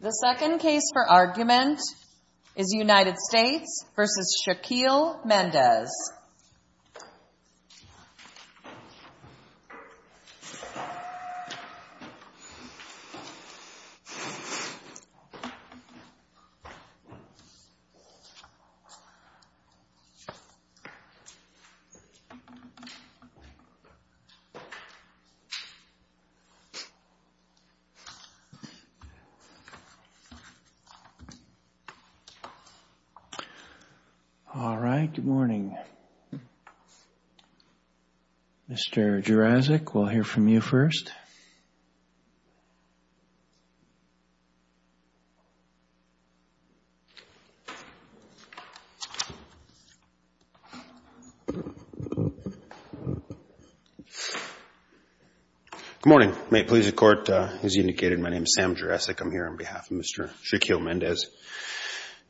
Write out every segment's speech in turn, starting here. The second case for argument is United States v. Shaquiel Mendez All right, good morning. Mr. Juraczyk, we'll hear from you first. Good morning. May it please the Court, as you indicated, my name is Sam Juraczyk. I'm here on behalf of Mr. Shaquiel Mendez.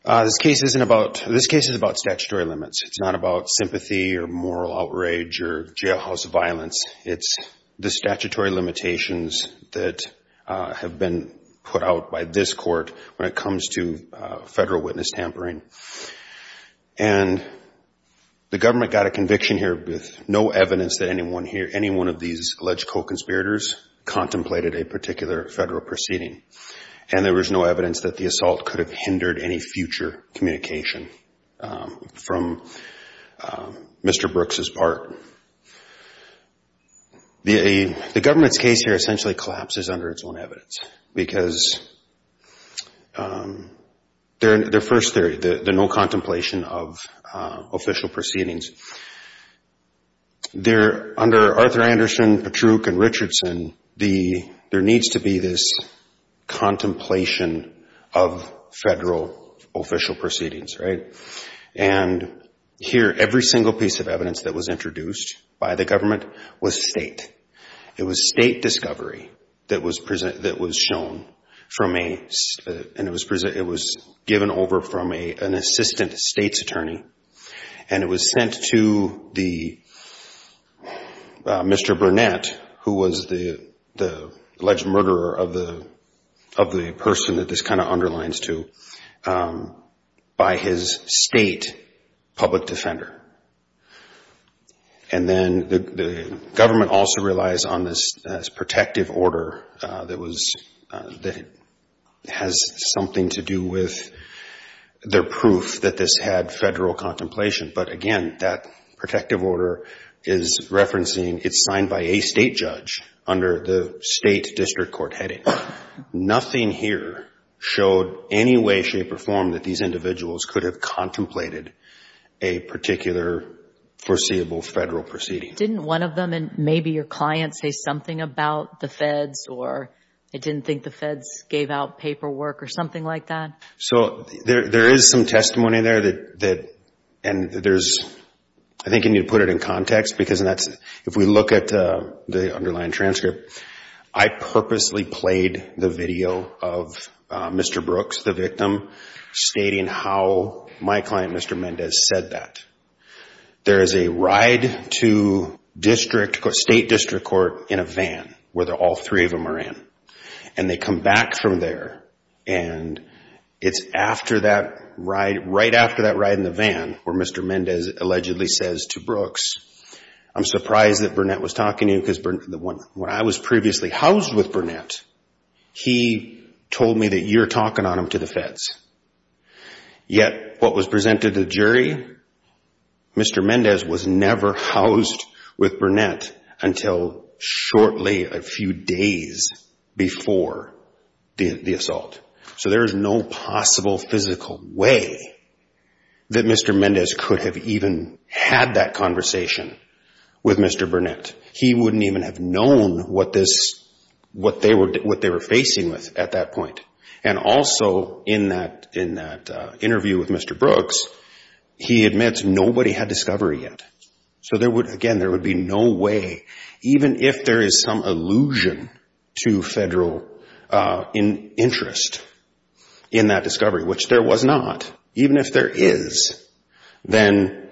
This case is about statutory limits. It's not about limitations that have been put out by this Court when it comes to federal witness tampering. And the government got a conviction here with no evidence that anyone here, any one of these alleged co-conspirators contemplated a particular federal proceeding. And there was no evidence that the assault could have hindered any future communication from Mr. Brooks' part. The government's case here essentially collapses under its own evidence because they're first the no contemplation of official proceedings. Under Arthur Anderson, Patruch, and Richardson, there needs to be this contemplation of federal official proceedings, right? And here, every single piece of evidence that was introduced by the government was state. It was state discovery that was shown from a, and it was given over from an assistant state's attorney, and it was sent to the, Mr. Burnett, who was the alleged murderer of the person that this kind of underlines to, by his state public defender. And then the government also relies on this protective order that was, that has something to do with their proof that this had federal contemplation. But again, that protective order is referencing, it's signed by a state judge under the state way, shape, or form that these individuals could have contemplated a particular foreseeable federal proceeding. Didn't one of them, and maybe your client, say something about the feds or they didn't think the feds gave out paperwork or something like that? So there is some testimony there that, and there's, I think you need to put it in context because if we look at the underlying transcript, I purposely played the video of Mr. Brooks, the victim, stating how my client, Mr. Mendez, said that. There is a ride to district, state district court in a van where all three of them are in. And they come back from there and it's after that ride, right after that ride in the van where Mr. Mendez allegedly says to Brooks, I'm surprised that Burnett was talking to you because when I was previously housed with Burnett, he told me that you're talking on him to the feds. Yet, what was presented to the jury, Mr. Mendez was never housed with Burnett until shortly, a few days before the assault. So there is no possible physical way that Mr. Mendez could have even had that conversation with Mr. Burnett. He wouldn't even have known what they were facing with at that point. And also, in that interview with Mr. Brooks, he admits nobody had discovery yet. So again, there would be no way, even if there is some allusion to federal interest in that discovery, which there was not. Even if there is, then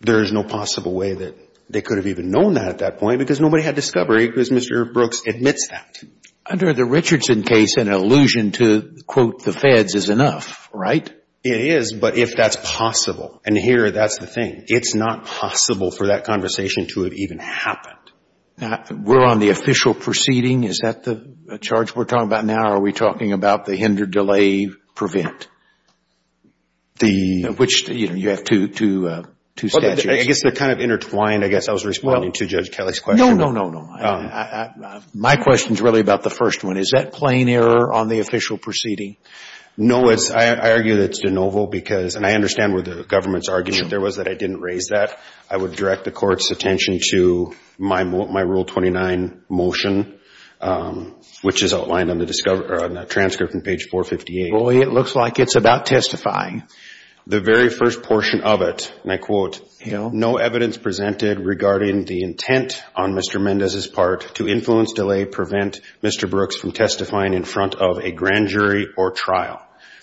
there is no possible way that they could have even known that at that point because nobody had discovery because Mr. Brooks admits that. Under the Richardson case, an allusion to, quote, the feds is enough, right? It is, but if that's possible. And here, that's the thing. It's not possible for that conversation to have even happened. We're on the official proceeding. Is that the charge we're talking about now? Are we talking about the hindered delay prevent? You have two statutes. I guess they're kind of intertwined. I guess I was responding to Judge Kelly's question. No, no, no, no. My question is really about the first one. Is that plain error on the official proceeding? No, I argue that it's de novo because, and I understand where the government's argument there was that I didn't raise that. I would direct the court's attention to my Rule 29 motion, which is outlined on the transcript from page 458. Well, it looks like it's about testifying. The very first portion of it, and I quote, no evidence presented regarding the intent on Mr. Mendez's part to influence delay prevent Mr. Brooks from testifying in front of a grand jury or trial. So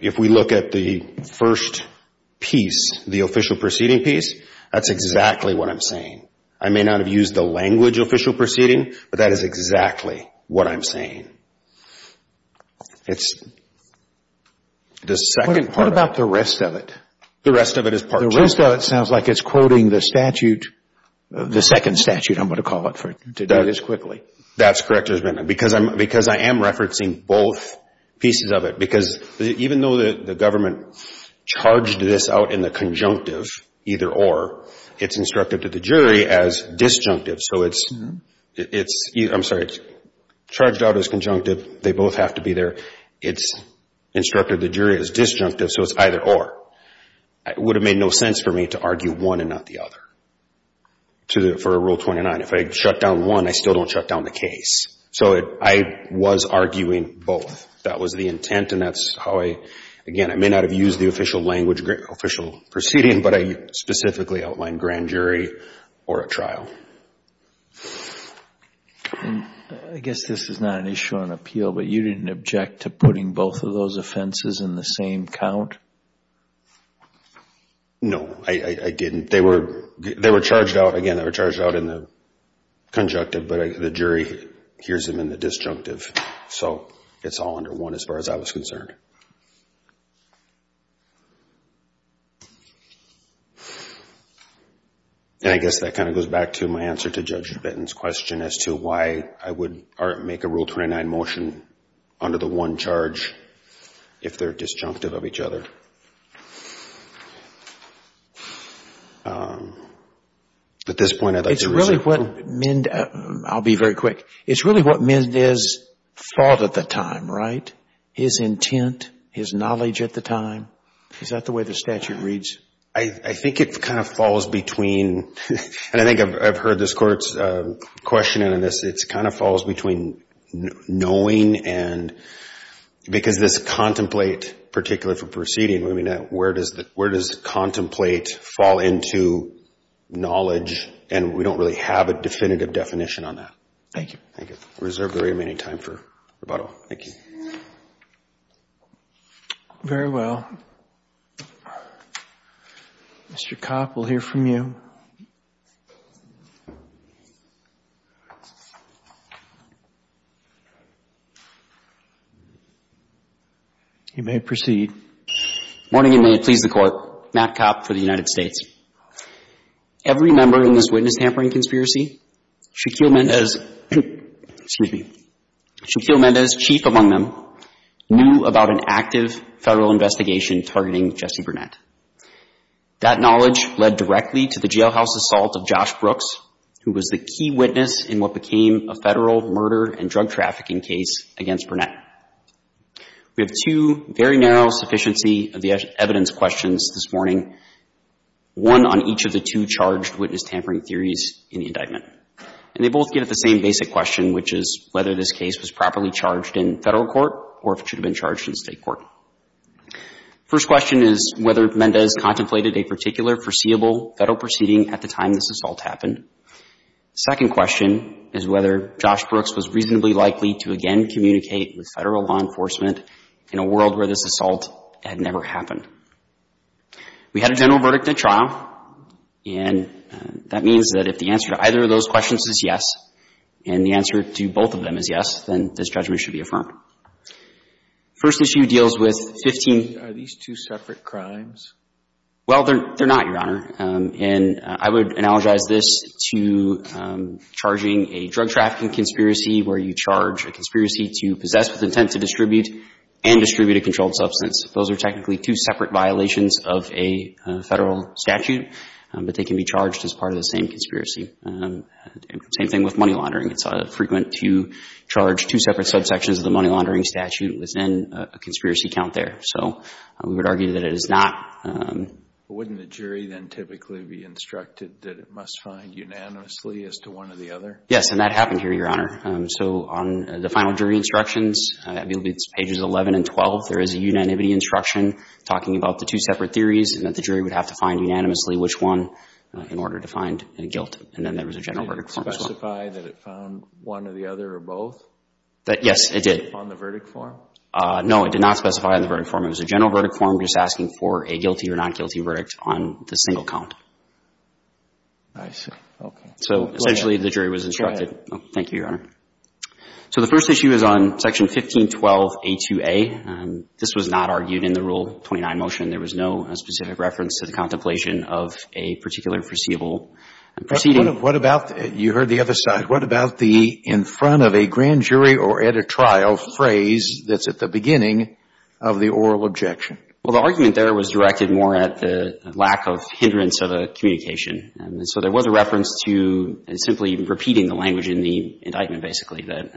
if we look at the first piece, the official proceeding piece, that's exactly what I'm saying. I may not have used the language official proceeding, but that is exactly what I'm saying. It's the second part. What about the rest of it? The rest of it is part two. The rest of it sounds like it's quoting the statute, the second statute, I'm going to call it to do this quickly. That's correct, because I am referencing both pieces of it, because even though the government charged this out in the conjunctive, either or, it's instructed to the jury as disjunctive. So it's, I'm sorry, it's charged out as conjunctive. They both have to be there. It's instructed the jury as disjunctive, so it's either or. It would have made no sense for me to argue one and not the other for Rule 29. If I shut down one, I still don't shut down the case. So I was arguing both. That was the intent, and that's how I, again, I may not have used the official language, official proceeding, but I specifically outlined grand jury or a trial. I guess this is not an issue on appeal, but you didn't object to putting both of those offenses in the same count? No, I didn't. They were charged out, again, they were charged out in the conjunctive, but the jury hears them in the disjunctive. So it's all under one as far as I was concerned. I guess that kind of goes back to my answer to Judge Benton's question as to why I would make a Rule 29 motion under the one charge if they're disjunctive of each other. At this point, I'd like to... I'll be very quick. It's really what Mendez thought at the time, right? His intent, his knowledge at the time. Is that the way the statute reads? I think it kind of falls between, and I think I've heard this Court's questioning on this, it kind of falls between knowing and, because this contemplate, particularly for proceeding, where does contemplate fall into knowledge, and we don't really have a definitive definition on that. Thank you. Thank you. Reserve the remaining time for rebuttal. Thank you. Very well. Mr. Kopp, we'll hear from you. You may proceed. Morning, and may it please the Court. Matt Kopp for the United States. Every member in this witness tampering conspiracy, Shakil Mendez, excuse me, Shakil Mendez, chief among them, knew about an active federal investigation targeting Jesse Burnett. That knowledge led directly to the jailhouse assault of Josh Brooks, who was the key witness in what became a federal murder and drug trafficking case against Burnett. We have two very narrow sufficiency of the evidence questions this morning, one on each of the two charged witness tampering theories in the indictment. And they both give the same basic question, which is whether this case was properly charged in federal court or if it should have been charged in state court. First question is whether Mendez contemplated a particular foreseeable federal proceeding at the time this assault happened. Second question is whether Josh Brooks was reasonably likely to again communicate with federal law enforcement in a world where this assault had never happened. We had a general verdict at trial, and that means that if the answer to either of those questions is yes, and the answer to both of them is yes, then this judgment should be affirmed. First issue deals with 15 — Are these two separate crimes? Well, they're not, Your Honor. And I would analogize this to charging a drug trafficking conspiracy where you charge a conspiracy to possess with intent to distribute and distribute a controlled substance. Those are technically two separate crimes. They're separate violations of a federal statute, but they can be charged as part of the same conspiracy. Same thing with money laundering. It's frequent to charge two separate subsections of the money laundering statute within a conspiracy count there. So we would argue that it is not — But wouldn't the jury then typically be instructed that it must find unanimously as to one or the other? Yes, and that happened here, Your Honor. So on the final jury instructions, pages 11 and 12, there is a unanimity instruction talking about the two separate theories and that the jury would have to find unanimously which one in order to find a guilt. And then there was a general verdict form as well. Did it specify that it found one or the other or both? Yes, it did. On the verdict form? No, it did not specify on the verdict form. It was a general verdict form just asking for a guilty or not guilty verdict on the single count. I see. Okay. So essentially, the jury was instructed — Thank you, Your Honor. So the first issue is on section 1512A2A. This was not argued in the Rule 29 motion. There was no specific reference to the contemplation of a particular foreseeable proceeding. What about — you heard the other side. What about the in front of a grand jury or at a trial phrase that's at the beginning of the oral objection? Well, the argument there was directed more at the lack of hindrance of the communication. So there was a reference to simply repeating the language in the indictment, basically, that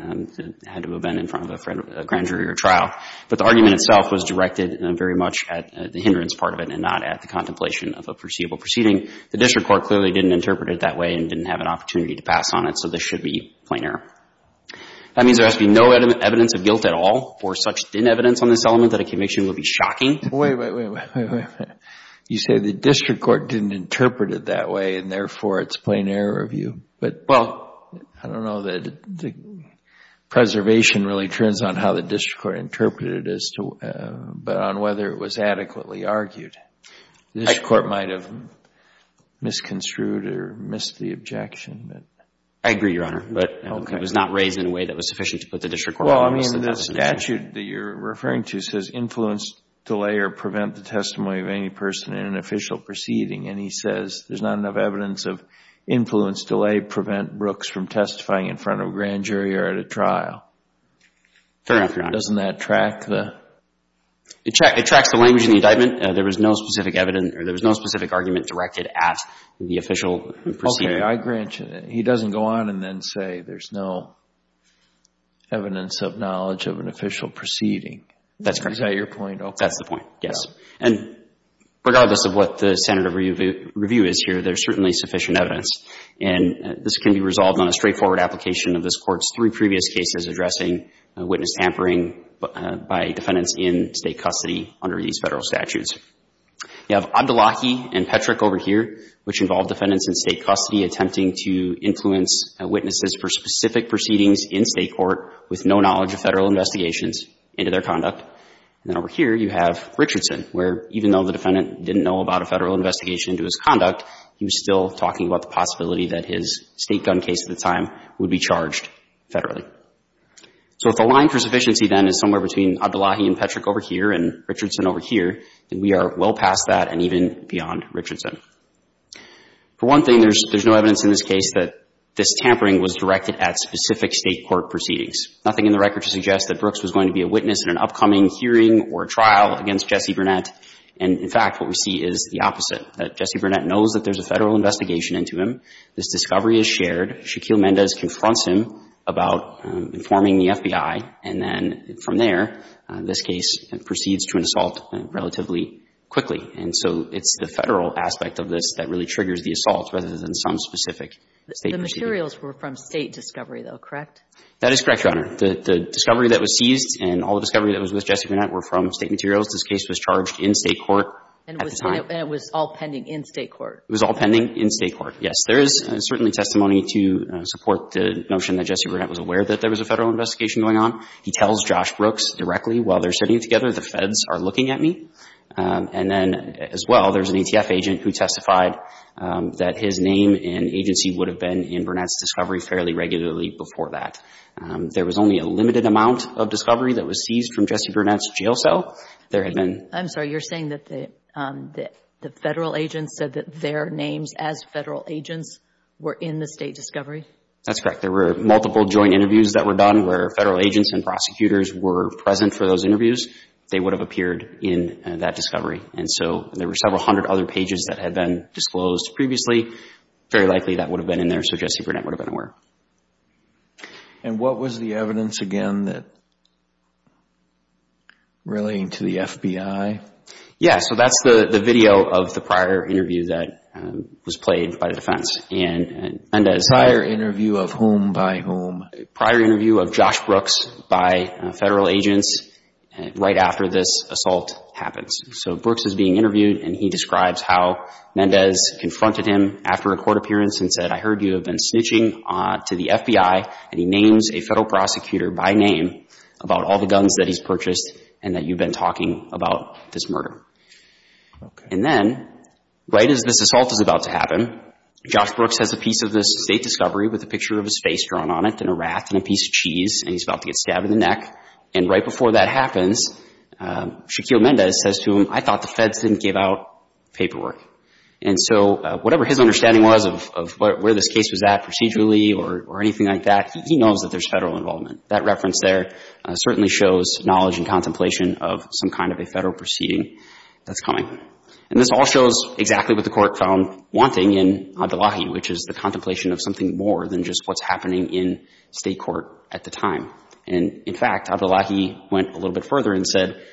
had to have been in front of a grand jury or trial. But the argument itself was directed very much at the hindrance part of it and not at the contemplation of a foreseeable proceeding. The district court clearly didn't interpret it that way and didn't have an opportunity to pass on it. So this should be plain error. That means there has to be no evidence of guilt at all or such evidence on this element that a conviction would be shocking. Wait, wait, wait. You say the district court didn't interpret it that way and, therefore, it's plain error of you. But, well, I don't know that the preservation really turns on how the district court interpreted it as to — but on whether it was adequately argued. The district court might have misconstrued or missed the objection. I agree, Your Honor. But it was not raised in a way that was sufficient to put the district court in a position to say, well, you know, the statute that you're referring to says, influence, delay, or prevent the testimony of any person in an official proceeding. And he says there's not enough evidence of influence, delay, prevent Brooks from testifying in front of a grand jury or at a trial. Fair enough, Your Honor. Doesn't that track the — It tracks the language in the indictment. There was no specific argument directed at the official proceeding. Okay. I grant you that he doesn't go on and then say there's no evidence of knowledge of an official proceeding. That's correct. Is that your point? Okay. That's the point, yes. And regardless of what the standard of review is here, there's certainly sufficient evidence. And this can be resolved on a straightforward application of this Court's three previous cases addressing witness hampering by defendants in state custody under these Federal statutes. You have Abdullahi and Petrick over here, which involve defendants in state custody attempting to influence witnesses for specific proceedings in state court with no knowledge of Federal investigations into their conduct. And then over here, you have Richardson, where even though the defendant didn't know about a Federal investigation into his conduct, he was still talking about the possibility that his state gun case at the time would be charged federally. So if the line for sufficiency, then, is somewhere between Abdullahi and Petrick over here and Richardson over here, then we are well past that and even beyond Richardson. For one thing, there's no evidence in this case that this tampering was directed at specific state court proceedings. Nothing in the record suggests that Brooks was going to be a witness in an upcoming hearing or trial against Jesse Burnett. And in fact, what we see is the opposite, that Jesse Burnett knows that there's a Federal investigation into him. This discovery is shared. Shaquille Mendez confronts him about informing the FBI. And then from there, this case proceeds to an assault relatively quickly. And so it's the aspect of this that really triggers the assault rather than some specific state proceeding. The materials were from state discovery, though, correct? That is correct, Your Honor. The discovery that was seized and all the discovery that was with Jesse Burnett were from state materials. This case was charged in state court at the time. And it was all pending in state court? It was all pending in state court, yes. There is certainly testimony to support the notion that Jesse Burnett was aware that there was a Federal investigation going on. He tells Josh Brooks directly, while they're sitting together, the Feds are looking at me. And then as well, there's an ATF agent who testified that his name and agency would have been in Burnett's discovery fairly regularly before that. There was only a limited amount of discovery that was seized from Jesse Burnett's jail cell. There had been... I'm sorry, you're saying that the Federal agents said that their names as Federal agents were in the state discovery? That's correct. There were multiple joint interviews that were done where Federal agents and prosecutors were present for those interviews. They would have appeared in that discovery. And so there were several hundred other pages that had been disclosed previously. Very likely that would have been in there, so Jesse Burnett would have been aware. And what was the evidence again that relating to the FBI? Yeah, so that's the video of the prior interview that was played by the defense. And Endez... Prior interview of whom by whom? Prior interview of Josh Brooks by Federal agents right after this assault happens. So Brooks is being interviewed and he describes how Endez confronted him after a court appearance and said, I heard you have been snitching to the FBI and he names a Federal prosecutor by name about all the guns that he's purchased and that you've been talking about this murder. And then right as this assault is about to happen, Josh Brooks has a piece of this state discovery with a picture of his face drawn on it and a raft and a piece of cheese and he's about to get stabbed in the neck. And right before that happens, Shaquille Endez says to him, I thought the Feds didn't give out paperwork. And so whatever his understanding was of where this case was at procedurally or anything like that, he knows that there's Federal involvement. That reference there certainly shows knowledge and contemplation of some kind of a Federal proceeding that's coming. And this all shows exactly what the Court found wanting in Adelahi, which is the contemplation of something more than just what's happening in state court at the time. And in fact, Adelahi went a little bit further and said,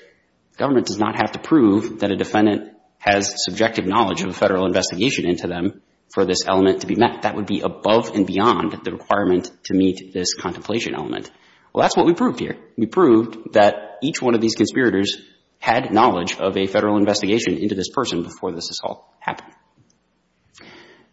government does not have to prove that a defendant has subjective knowledge of a Federal investigation into them for this element to be met. That would be above and beyond the requirement to meet this contemplation element. Well, that's what we proved here. We proved that each one of these conspirators had knowledge of a Federal investigation into this person before this assault happened.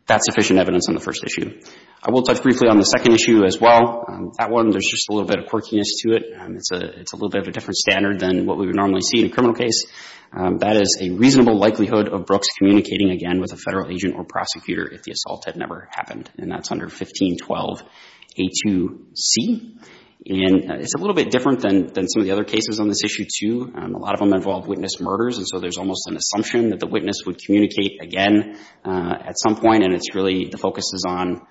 That's sufficient evidence on the first issue. I will touch briefly on the second issue as well. That one, there's just a little bit of quirkiness to it. It's a little bit of a different standard than what we would normally see in a criminal case. That is a reasonable likelihood of Brooks communicating again with a Federal agent or prosecutor if the assault had never happened. And that's under 1512a2c. And it's a little bit different than some of the other cases on this issue too. A lot of them involve witness murders. And so there's almost an assumption that the witness would communicate again at some point. And it's really, the focus is on,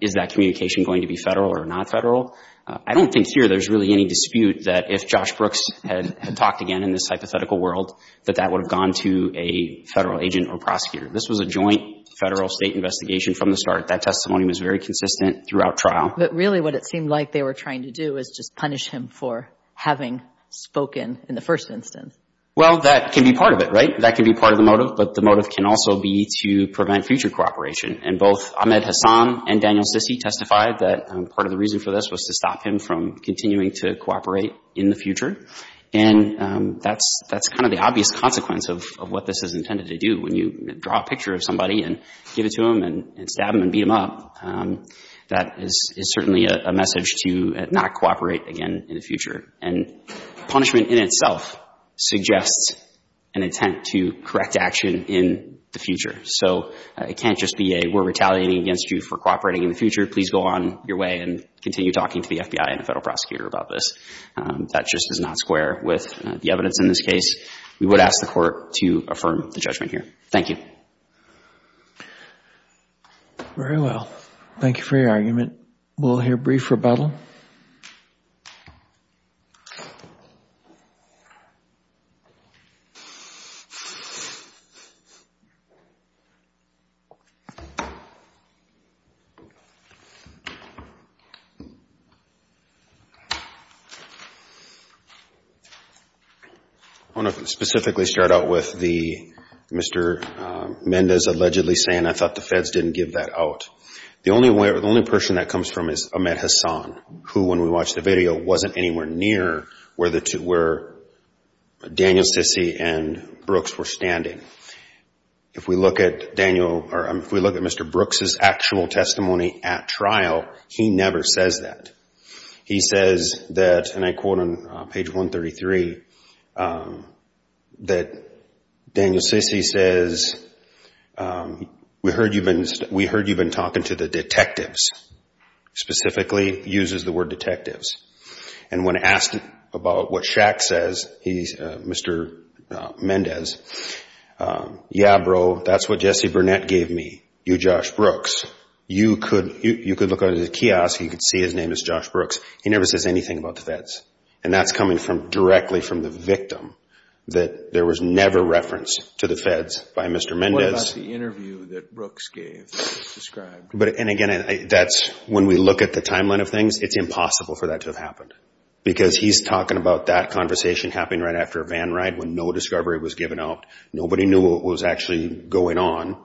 is that communication going to be Federal or not Federal? I don't think here there's really any dispute that if Josh Brooks had talked again in this hypothetical world, that that would have gone to a Federal agent or prosecutor. This was a joint Federal-State investigation from the start. That testimony was very consistent throughout trial. But really what it seemed like they were trying to do is just punish him for having spoken in the first instance. Well, that can be part of it, right? That can be part of the motive, but the motive can also be to prevent future cooperation. And both Ahmed Hassan and Daniel Sissy testified that part of the reason for this was to stop him from continuing to cooperate in the future. And that's kind of the obvious consequence of what this is intended to do. When you draw a picture of somebody and give it to him and stab him and beat him up, that is certainly a message to not cooperate again in the future. And punishment in itself suggests an intent to correct action in the future. So it can't just be a, we're retaliating against you for cooperating in the future, please go on your way and continue talking to the FBI and a Federal prosecutor about this. That just does not square with the evidence in this case. We would ask the Court to affirm the judgment here. Thank you. Very well. Thank you for your argument. We'll hear brief rebuttal. I want to specifically start out with the Mr. Mendez allegedly saying, I thought the feds didn't give that out. The only person that comes from is Ahmed Hassan, who when we watched the video wasn't anywhere near where Daniel Sissy and Brooks were standing. If we look at Mr. Brooks' actual testimony at trial, he never says that. He says that, and I quote on page 133, that Daniel Sissy says, we heard you've been talking to the detectives, specifically uses the word detectives. And when asked about what Shaq says, Mr. Mendez, yeah bro, that's what Jesse Burnett gave me, you Josh Brooks. You could look under the kiosk, you could see his name is Josh Brooks. He never says anything about the feds. And that's coming directly from the victim, that there was never reference to the feds by Mr. Mendez. What about the interview that Brooks gave, described? And again, that's when we look at the timeline of things, it's impossible for that to have happened. Because he's talking about that conversation happening right after a van ride when no discovery was given out. Nobody knew what was actually going on.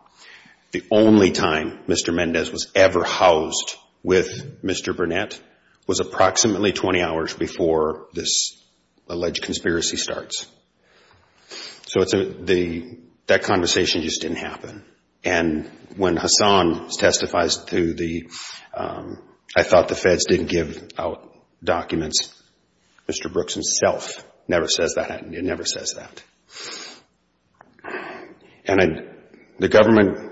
The only time Mr. Mendez was ever housed with Mr. Burnett was approximately 20 hours before this alleged conspiracy starts. So that conversation just didn't happen. And when Hassan testifies to the, I thought the feds didn't give out documents, Mr. Brooks himself never says that, he never says that. And the government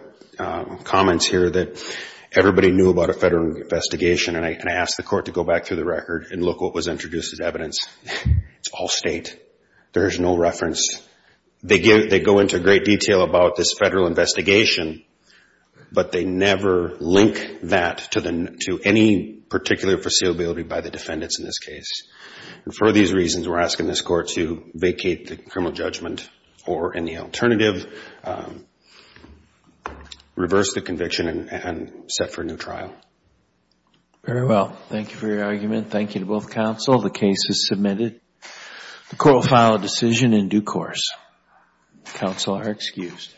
comments here that everybody knew about a federal investigation, and I asked the court to go back through the record and look what was introduced as evidence. It's all state. There's no reference. They go into great detail about this federal investigation, but they never link that to any particular foreseeability by the defendants in this case. And for these reasons, we're asking this court to vacate the criminal judgment, or any alternative, reverse the conviction and set for a new trial. Very well. Thank you for your argument. Thank you to both counsel. The case is submitted. The court will file a decision in due course. Counsel are excused.